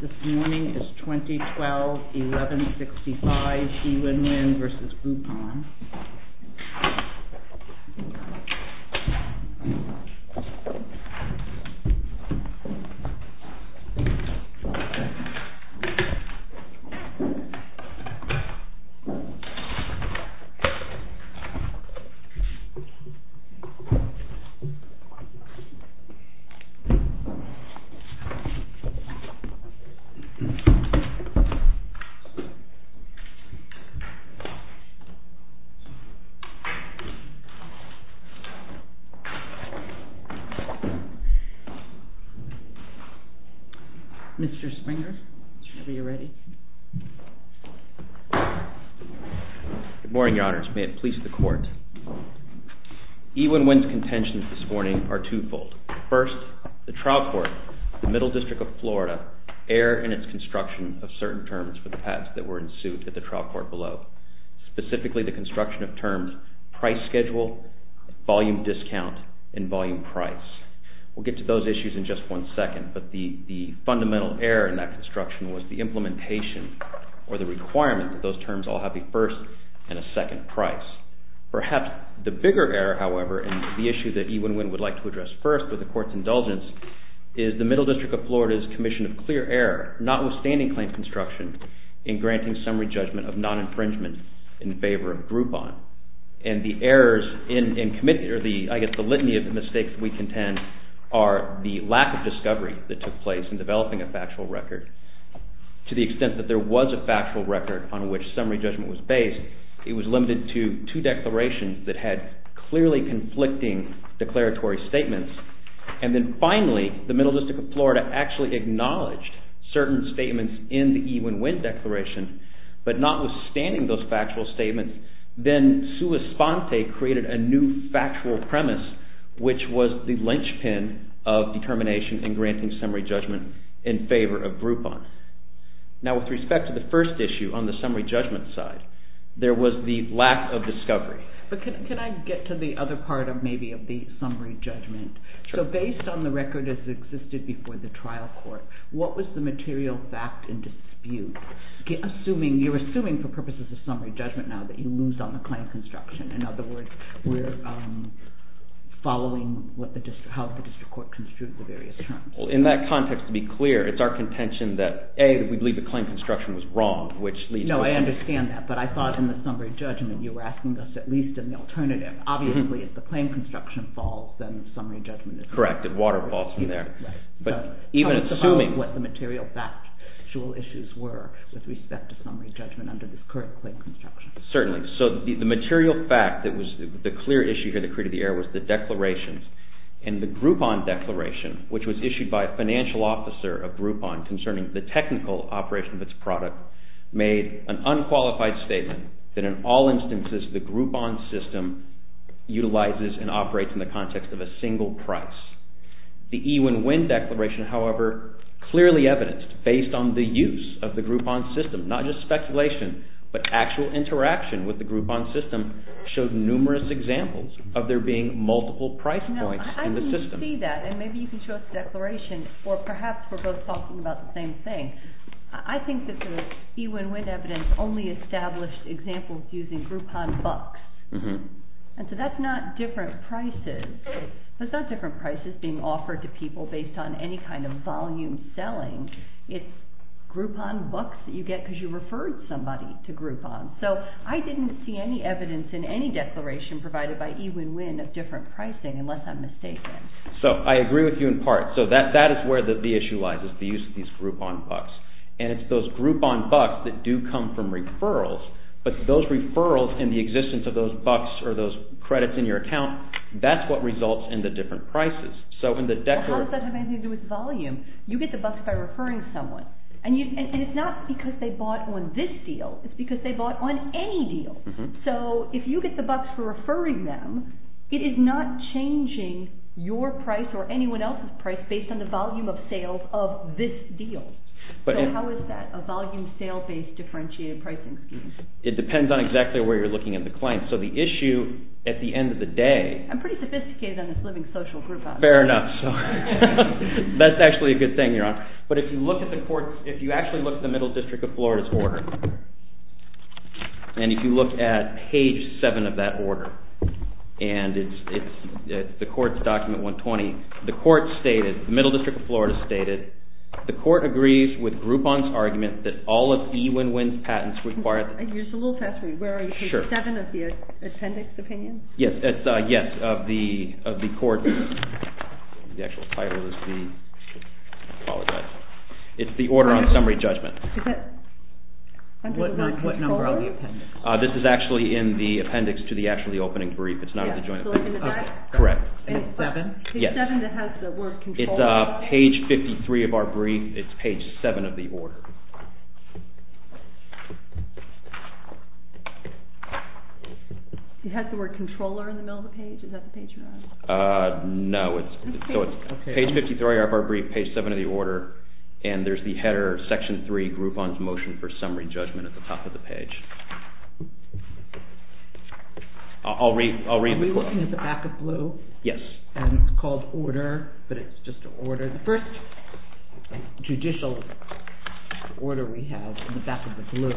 This morning is 2012-11-65 EWINWIN v. GROUPON Mr. Springer, are you ready? Good morning, Your Honors. May it please the Court, EWINWIN's contentions this morning are twofold. First, the trial court, the Middle District of Florida's commission of clear error in its construction of certain terms for the patents that were in suit at the trial court below, specifically the construction of terms price schedule, volume discount, and volume price. We'll get to those issues in just one second, but the fundamental error in that construction was the implementation or the requirement that those terms all have a first and a second price. Perhaps the bigger error, however, and the issue that EWINWIN would like to address first with the Court's claim construction in granting summary judgment of non-infringement in favor of GROUPON. And the errors, I guess the litany of the mistakes we contend are the lack of discovery that took place in developing a factual record. To the extent that there was a factual record on which summary judgment was based, it was limited to two declarations that had clearly conflicting declaratory statements. And then finally, the Middle District of Florida actually acknowledged certain statements in the EWINWIN declaration, but notwithstanding those factual statements, then sua sponte created a new factual premise, which was the linchpin of determination in granting summary judgment in favor of GROUPON. Now with respect to the first issue on the summary judgment side, there was the lack of discovery. But can I get to the other part of maybe of the summary judgment? Sure. So based on the record as existed before the trial court, what was the material fact in dispute? You're assuming for purposes of summary judgment now that you lose on the claim construction. In other words, we're following how the district court construed the various terms. In that context, to be clear, it's our contention that A, we believe the claim construction was wrong, which leads to a… No, I understand that, but I thought in the summary judgment you were asking us at least an alternative. Obviously, if the claim construction falls, then the summary judgment is… Correct, if water falls from there. Right. But even assuming… Tell us about what the material factual issues were with respect to summary judgment under this current claim construction. Certainly. So the material fact that was the clear issue here that created the error was the declarations. And the GROUPON declaration, which was issued by a financial officer of GROUPON concerning the technical operation of its product, made an unqualified statement that in all instances the GROUPON system utilizes and operates in the context of a single price. The E-WIN-WIN declaration, however, clearly evidenced based on the use of the GROUPON system, not just speculation, but actual interaction with the GROUPON system showed numerous examples of there being multiple price points in the system. I can see that, and maybe you can show us the declaration, or perhaps we're both talking about the same thing. I think that the E-WIN-WIN evidence only established examples using GROUPON bucks. And so that's not different prices. That's not different prices being offered to people based on any kind of volume selling. It's GROUPON bucks that you get because you referred somebody to GROUPON. So I didn't see any evidence in any declaration provided by E-WIN-WIN of different pricing, unless I'm mistaken. So I agree with you in part. So that is where the issue lies, is the use of these GROUPON bucks. And it's those GROUPON bucks that do come from referrals, but those referrals and the existence of those bucks or those credits in your account, that's what results in the different prices. So in the declaration... Well, how does that have anything to do with volume? You get the bucks by referring someone. And it's not because they bought on this deal. It's because they bought on any deal. So if you get the bucks for referring them, it is not changing your price or anyone else's price based on the volume of sales of this deal. So how is that a volume sale-based differentiated pricing scheme? It depends on exactly where you're looking at the claim. So the issue, at the end of the day... I'm pretty sophisticated on this Living Social Groupon. Fair enough. That's actually a good thing you're on. But if you look at the courts, if you actually look at the Middle District of Florida's order, and if you look at page seven of that order, and it's the court's document 120, the court stated, the Middle District of Florida stated, the court agrees with Groupon's argument that all of E-Win-Win's patents require... You're just a little past me. Where are you? Page seven of the appendix opinion? Yes, of the court's... The actual title is the... I apologize. It's the order on summary judgment. What number on the appendix? This is actually in the appendix to the actually opening brief. It's not in the joint appendix. Correct. Page seven? Yes. Page seven that has the word control. It's page 53 of our brief. It's page seven of the order. It has the word controller in the middle of the page? Is that the page you're on? No, it's... Okay. So it's page 53 of our brief, page seven of the order, and there's the header, section three, Groupon's motion for summary judgment at the top of the page. I'll read the quote. Are we looking at the back of blue? Yes. And it's called order, but it's just an order. The first judicial order we have in the back of the blue...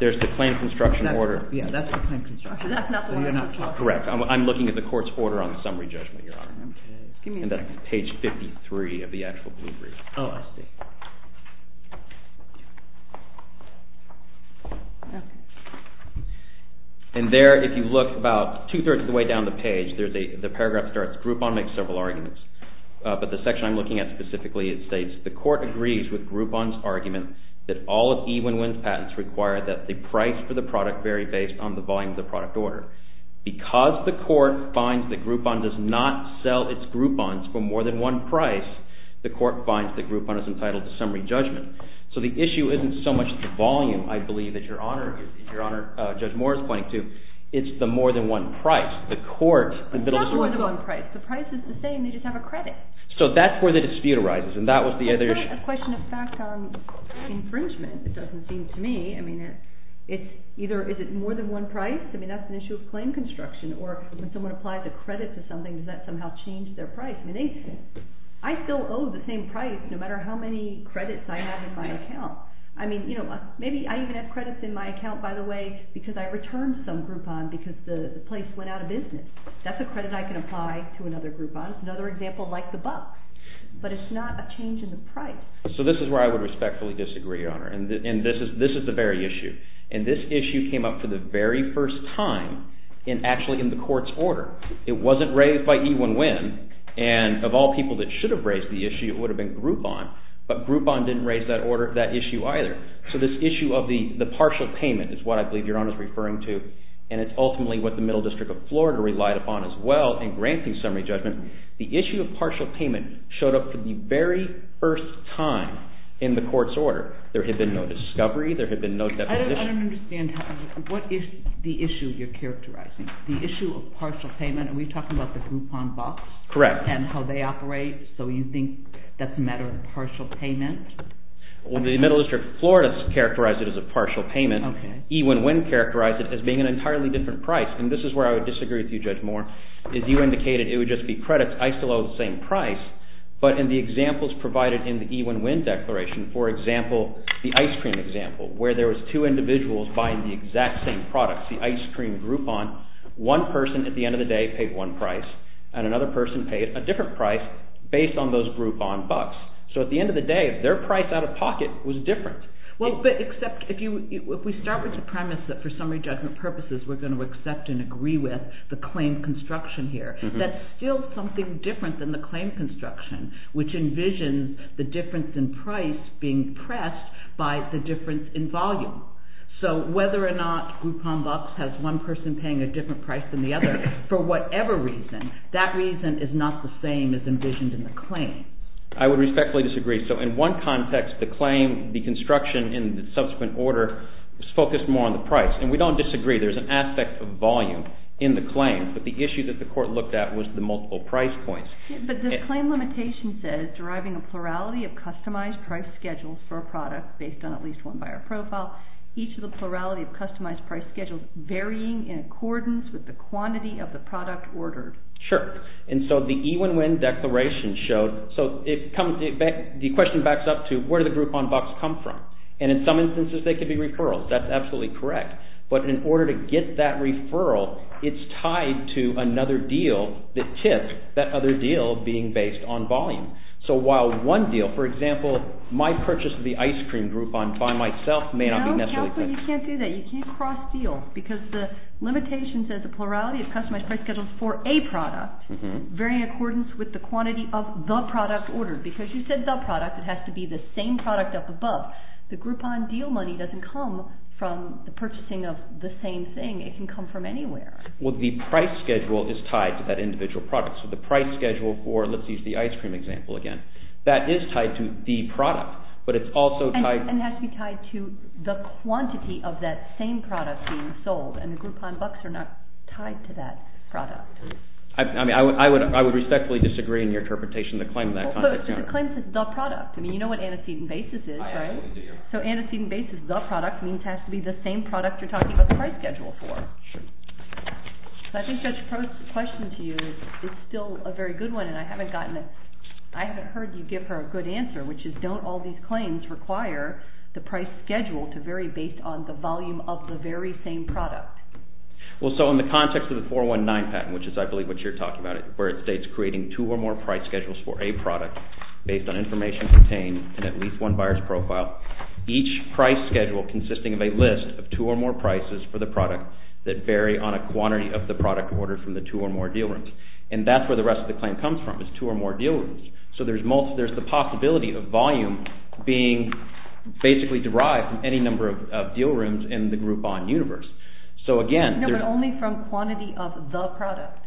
There's the claim construction order. Yeah, that's the claim construction order. That's not what I'm talking about. Correct. I'm looking at the court's order on summary judgment, Your Honor. Okay. Give me a second. And that's page 53 of the actual blue brief. Oh, I see. And there, if you look about two-thirds of the way down the page, the paragraph starts, Groupon makes several arguments, but the section I'm looking at specifically, it states, the court agrees with Groupon's argument that all of E-Win-Win's patents require that the price for the product vary based on the volume of the product order. Because the court finds that Groupon does not sell its Groupons for more than one price, the court finds that Groupon is entitled to summary judgment. So the issue isn't so much the volume, I believe, that Your Honor, Judge Moore is pointing to, it's the more than one price. The court... It's not more than one price. The price is the same, they just have a credit. So that's where the dispute arises, and that was the other issue. It's like a question of fact on infringement. It doesn't seem to me. I mean, it's either, is it more than one price? I mean, that's an issue of claim construction. Or when someone applies a credit to something, does that somehow change their price? I still owe the same price no matter how many credits I have in my account. I mean, you know, maybe I even have credits in my account, by the way, because I returned some Groupon because the place went out of business. That's a credit I can apply to another Groupon. It's another example like the buck. But it's not a change in the price. So this is where I would respectfully disagree, Your Honor, and this is the very issue. And this issue came up for the very first time actually in the court's order. It wasn't raised by E. Win Win, and of all people that should have raised the issue, it would have been Groupon, but Groupon didn't raise that issue either. So this issue of the partial payment is what I believe Your Honor is referring to, and it's ultimately what the Middle District of Florida relied upon as well in granting summary judgment. The issue of partial payment showed up for the very first time in the court's order. There had been no discovery. There had been no deposition. I don't understand what is the issue you're characterizing, the issue of partial payment. Are we talking about the Groupon bucks? Correct. And how they operate, so you think that's a matter of partial payment? Well, the Middle District of Florida has characterized it as a partial payment. Okay. E. Win Win characterized it as being an entirely different price, and this is where I would disagree with you, Judge Moore, is you indicated it would just be credits. I still owe the same price, but in the examples provided in the E. Win Win declaration, for example, the ice cream example, where there was two individuals buying the exact same products, the ice cream Groupon, one person at the end of the day paid one price, and another person paid a different price based on those Groupon bucks. So at the end of the day, their price out of pocket was different. Well, but except if we start with the premise that for summary judgment purposes we're going to accept and agree with the claim construction here, that's still something different than the claim construction, which envisions the difference in price being pressed by the difference in volume. So whether or not Groupon bucks has one person paying a different price than the other, for whatever reason, that reason is not the same as envisioned in the claim. I would respectfully disagree. So in one context, the claim, the construction in the subsequent order, was focused more on the price, and we don't disagree. There's an aspect of volume in the claim, but the issue that the court looked at was the multiple price points. But the claim limitation says, deriving a plurality of customized price schedules for a product based on at least one buyer profile, each of the plurality of customized price schedules varying in accordance with the quantity of the product ordered. Sure. And so the E-win-win declaration showed, so the question backs up to where did the Groupon bucks come from? And in some instances they could be referrals. That's absolutely correct. But in order to get that referral, it's tied to another deal that tips that other deal being based on volume. So while one deal, for example, my purchase of the ice cream Groupon by myself may not be necessarily correct. No, you can't do that. You can't cross-deal, because the limitation says a plurality of customized price schedules for a product varying in accordance with the quantity of the product ordered. Because you said the product, it has to be the same product up above. The Groupon deal money doesn't come from the purchasing of the same thing. It can come from anywhere. Well, the price schedule is tied to that individual product. So the price schedule for, let's use the ice cream example again, that is tied to the product, but it's also tied to… And it has to be tied to the quantity of that same product being sold, and the Groupon bucks are not tied to that product. I mean, I would respectfully disagree in your interpretation of the claim in that context. But the claim says the product. I mean, you know what antecedent basis is, right? I absolutely do. So antecedent basis, the product, means it has to be the same product you're talking about the price schedule for. So I think that question to you is still a very good one, and I haven't gotten it. I haven't heard you give her a good answer, which is don't all these claims require the price schedule to vary based on the volume of the very same product? Well, so in the context of the 419 patent, which is I believe what you're talking about, where it states creating two or more price schedules for a product based on information contained in at least one buyer's profile, each price schedule consisting of a list of two or more prices for the product that vary on a quantity of the product ordered from the two or more deal rooms. And that's where the rest of the claim comes from is two or more deal rooms. So there's the possibility of volume being basically derived from any number of deal rooms in the Groupon universe. No, but only from quantity of the product.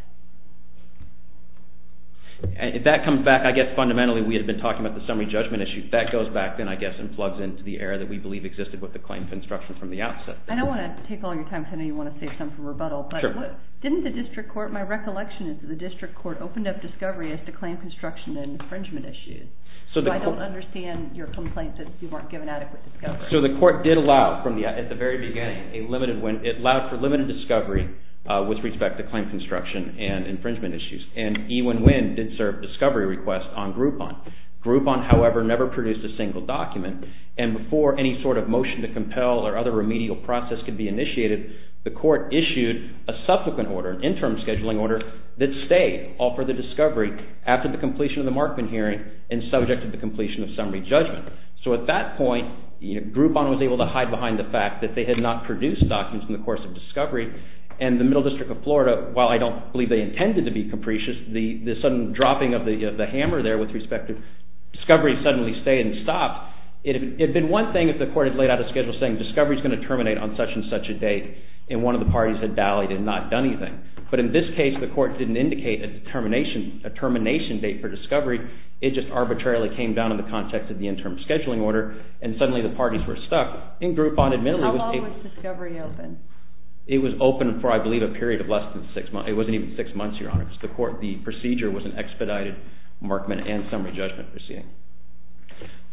If that comes back, I guess fundamentally we had been talking about the summary judgment issue. That goes back then, I guess, and plugs into the area that we believe existed with the claim construction from the outset. I don't want to take all your time. I know you want to save some for rebuttal, but didn't the district court, my recollection is that the district court opened up discovery as to claim construction and infringement issues. So I don't understand your complaint that you weren't given adequate discovery. So the court did allow, at the very beginning, it allowed for limited discovery with respect to claim construction and infringement issues. And E1WIN did serve discovery requests on Groupon. Groupon, however, never produced a single document. And before any sort of motion to compel or other remedial process could be initiated, the court issued a subsequent order, an interim scheduling order, that stayed all for the discovery after the completion of the Markman hearing and subject to the completion of summary judgment. So at that point, Groupon was able to hide behind the fact that they had not produced documents in the course of discovery. And the Middle District of Florida, while I don't believe they intended to be capricious, the sudden dropping of the hammer there with respect to discovery suddenly stayed and stopped. It would have been one thing if the court had laid out a schedule saying discovery is going to terminate on such and such a date, and one of the parties had dallied and not done anything. But in this case, the court didn't indicate a termination date for discovery. It just arbitrarily came down in the context of the interim scheduling order, and suddenly the parties were stuck. How long was discovery open? It was open for, I believe, a period of less than six months. It wasn't even six months, Your Honor. The procedure was an expedited Markman and summary judgment proceeding.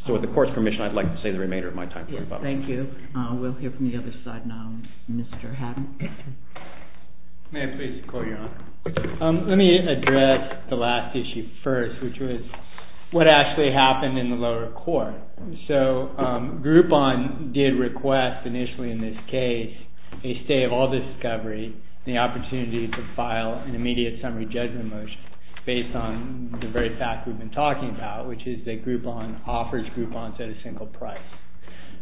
So with the court's permission, I'd like to say the remainder of my time. Thank you. We'll hear from the other side now. Mr. Hatton. May I please call, Your Honor? Let me address the last issue first, which was what actually happened in the lower court. So Groupon did request initially in this case a stay of all discovery and the opportunity to file an immediate summary judgment motion based on the very fact we've been talking about, which is that Groupon offers Groupons at a single price.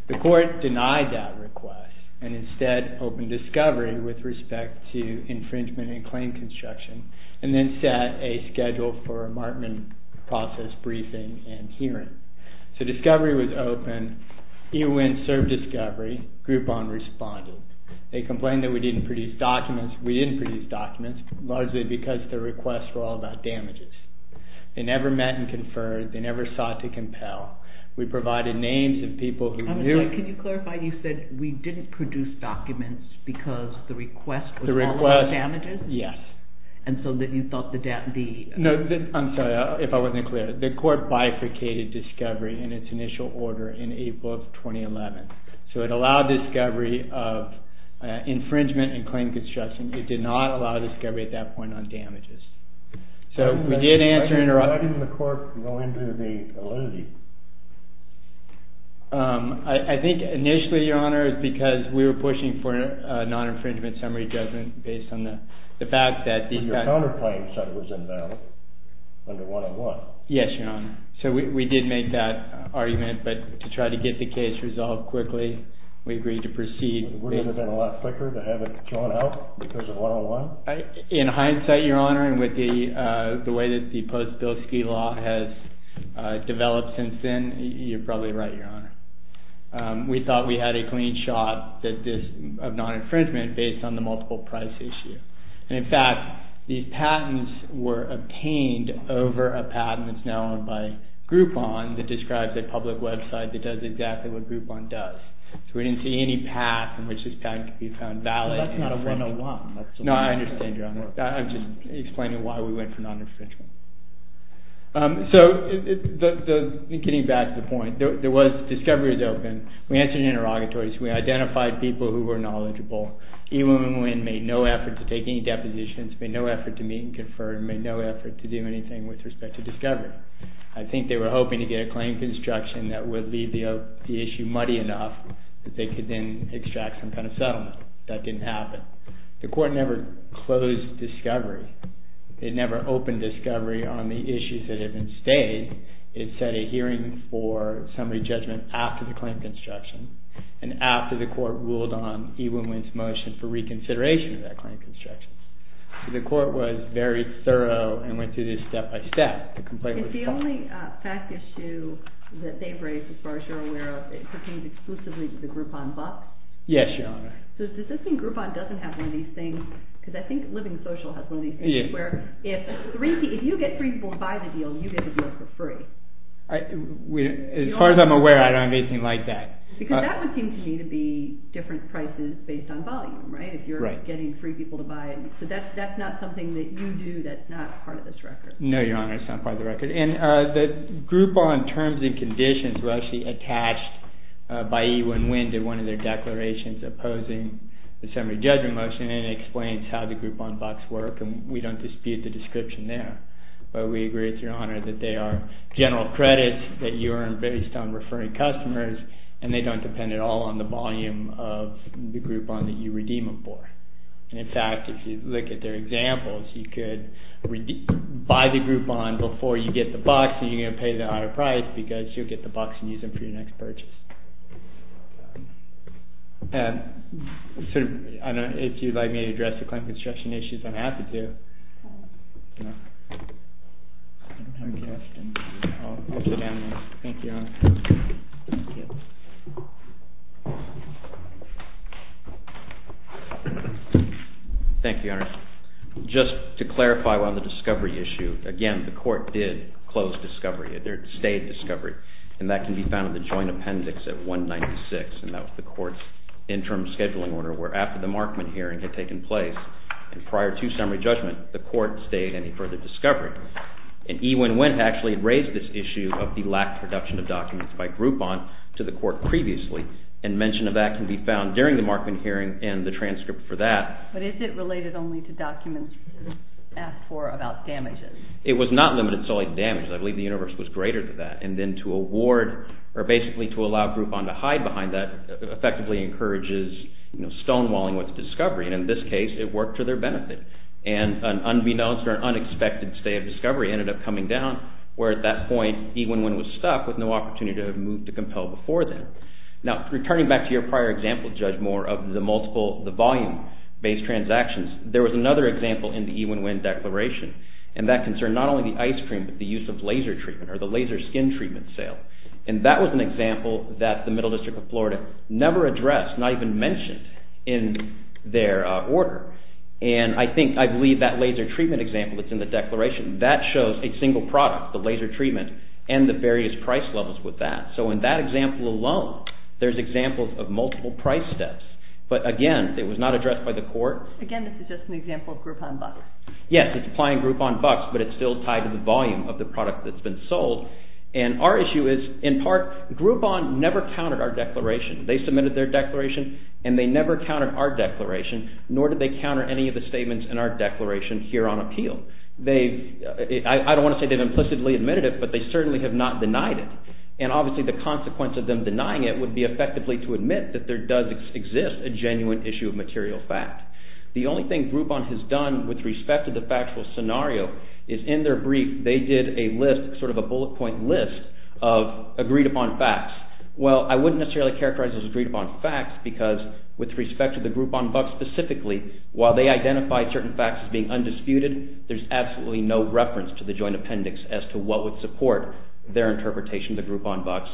The court denied that request and instead opened discovery with respect to infringement and claim construction and then set a schedule for a Markman process briefing and hearing. So discovery was open. EWIN served discovery. Groupon responded. They complained that we didn't produce documents. We didn't produce documents, largely because the requests were all about damages. They never met and conferred. They never sought to compel. We provided names of people who knew. Can you clarify? You said we didn't produce documents because the request was all about damages? Yes. And so then you thought the damages... I'm sorry if I wasn't clear. The court bifurcated discovery in its initial order in April of 2011. So it allowed discovery of infringement and claim construction. It did not allow discovery at that point on damages. So we did answer... Why didn't the court go into the allenity? I think initially, Your Honor, because we were pushing for a non-infringement summary judgment based on the fact that... But your counterclaims said it was invalid under 101. Yes, Your Honor. So we did make that argument, but to try to get the case resolved quickly, we agreed to proceed. Would it have been a lot quicker to have it drawn out because of 101? In hindsight, Your Honor, and with the way that the post-Bilski law has developed since then, you're probably right, Your Honor. We thought we had a clean shot of non-infringement based on the multiple price issue. And, in fact, these patents were obtained over a patent that's now owned by Groupon that describes a public website that does exactly what Groupon does. So we didn't see any path in which this patent could be found valid. Well, that's not a 101. No, I understand, Your Honor. I'm just explaining why we went for non-infringement. So getting back to the point, discovery was open, we answered interrogatories, we identified people who were knowledgeable, even when we made no effort to take any depositions, made no effort to meet and confer, made no effort to do anything with respect to discovery. I think they were hoping to get a claim construction that would leave the issue muddy enough that they could then extract some kind of settlement. That didn't happen. The court never closed discovery. It never opened discovery on the issues that had been stayed. It set a hearing for summary judgment after the claim construction and after the court ruled on Ewen Wynne's motion for reconsideration of that claim construction. The court was very thorough and went through this step by step. The complaint was filed. Is the only fact issue that they've raised, as far as you're aware of, pertains exclusively to the Groupon box? Yes, Your Honor. So does this mean Groupon doesn't have one of these things? Because I think Living Social has one of these things, where if you get free people to buy the deal, you get the deal for free. As far as I'm aware, I don't have anything like that. Because that would seem to me to be different prices based on volume, right? If you're getting free people to buy it. So that's not something that you do that's not part of this record? No, Your Honor, it's not part of the record. And the Groupon terms and conditions were actually attached by Ewen Wynne to one of their declarations opposing the summary judgment motion, and it explains how the Groupon box works, and we don't dispute the description there. But we agree with Your Honor that they are general credits that you earn based on referring customers, and they don't depend at all on the volume of the Groupon that you redeem them for. In fact, if you look at their examples, you could buy the Groupon before you get the box, and you're going to pay the higher price, because you'll get the box and use it for your next purchase. If you'd like me to address the client construction issues, I'm happy to. Thank you, Your Honor. Thank you, Your Honor. Just to clarify on the discovery issue, again, the court did close discovery. It stayed discovery, and that can be found in the joint appendix at 196, and that was the court's interim scheduling order, where after the Markman hearing had taken place, and prior to summary judgment, the court stayed any further discovery. And Ewen Wendt actually had raised this issue of the lack of production of documents by Groupon to the court previously, and mention of that can be found during the Markman hearing and the transcript for that. But is it related only to documents asked for about damages? It was not limited solely to damages. I believe the universe was greater than that, and then to award or basically to allow Groupon to hide behind that effectively encourages stonewalling with discovery, and in this case, it worked to their benefit. And an unbeknownst or an unexpected stay of discovery ended up coming down, where at that point, Ewen Wendt was stuck with no opportunity to move to compel before then. Now, returning back to your prior example, Judge Moore, of the multiple, the volume-based transactions, there was another example in the Ewen Wendt declaration, and that concerned not only the ice cream, but the use of laser treatment or the laser skin treatment sale. And that was an example that the Middle District of Florida never addressed, not even mentioned in their order. And I think, I believe that laser treatment example that's in the declaration, that shows a single product, the laser treatment, and the various price levels with that. So in that example alone, there's examples of multiple price steps. But again, it was not addressed by the court. Again, this is just an example of Groupon bucks. Yes, it's applying Groupon bucks, but it's still tied to the volume of the product that's been sold. And our issue is, in part, Groupon never countered our declaration. They submitted their declaration, and they never countered our declaration, nor did they counter any of the statements in our declaration here on appeal. I don't want to say they've implicitly admitted it, but they certainly have not denied it. And obviously, the consequence of them denying it would be effectively to admit that there does exist a genuine issue of material fact. The only thing Groupon has done with respect to the factual scenario is in their brief, they did a list, sort of a bullet point list, of agreed-upon facts. Well, I wouldn't necessarily characterize those as agreed-upon facts because with respect to the Groupon bucks specifically, while they identified certain facts as being undisputed, there's absolutely no reference to the joint appendix as to what would support their interpretation of the Groupon bucks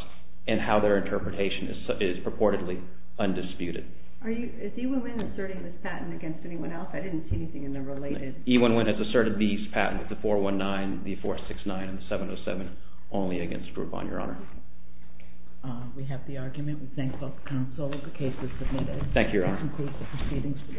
and how their interpretation is purportedly undisputed. Is E1Win asserting this patent against anyone else? I didn't see anything in there related. E1Win has asserted these patents, the 419, the 469, and the 707, only against Groupon, Your Honor. We have the argument. We thank both counsels. The case is submitted. Thank you, Your Honor. This concludes the proceedings for this morning. All rise.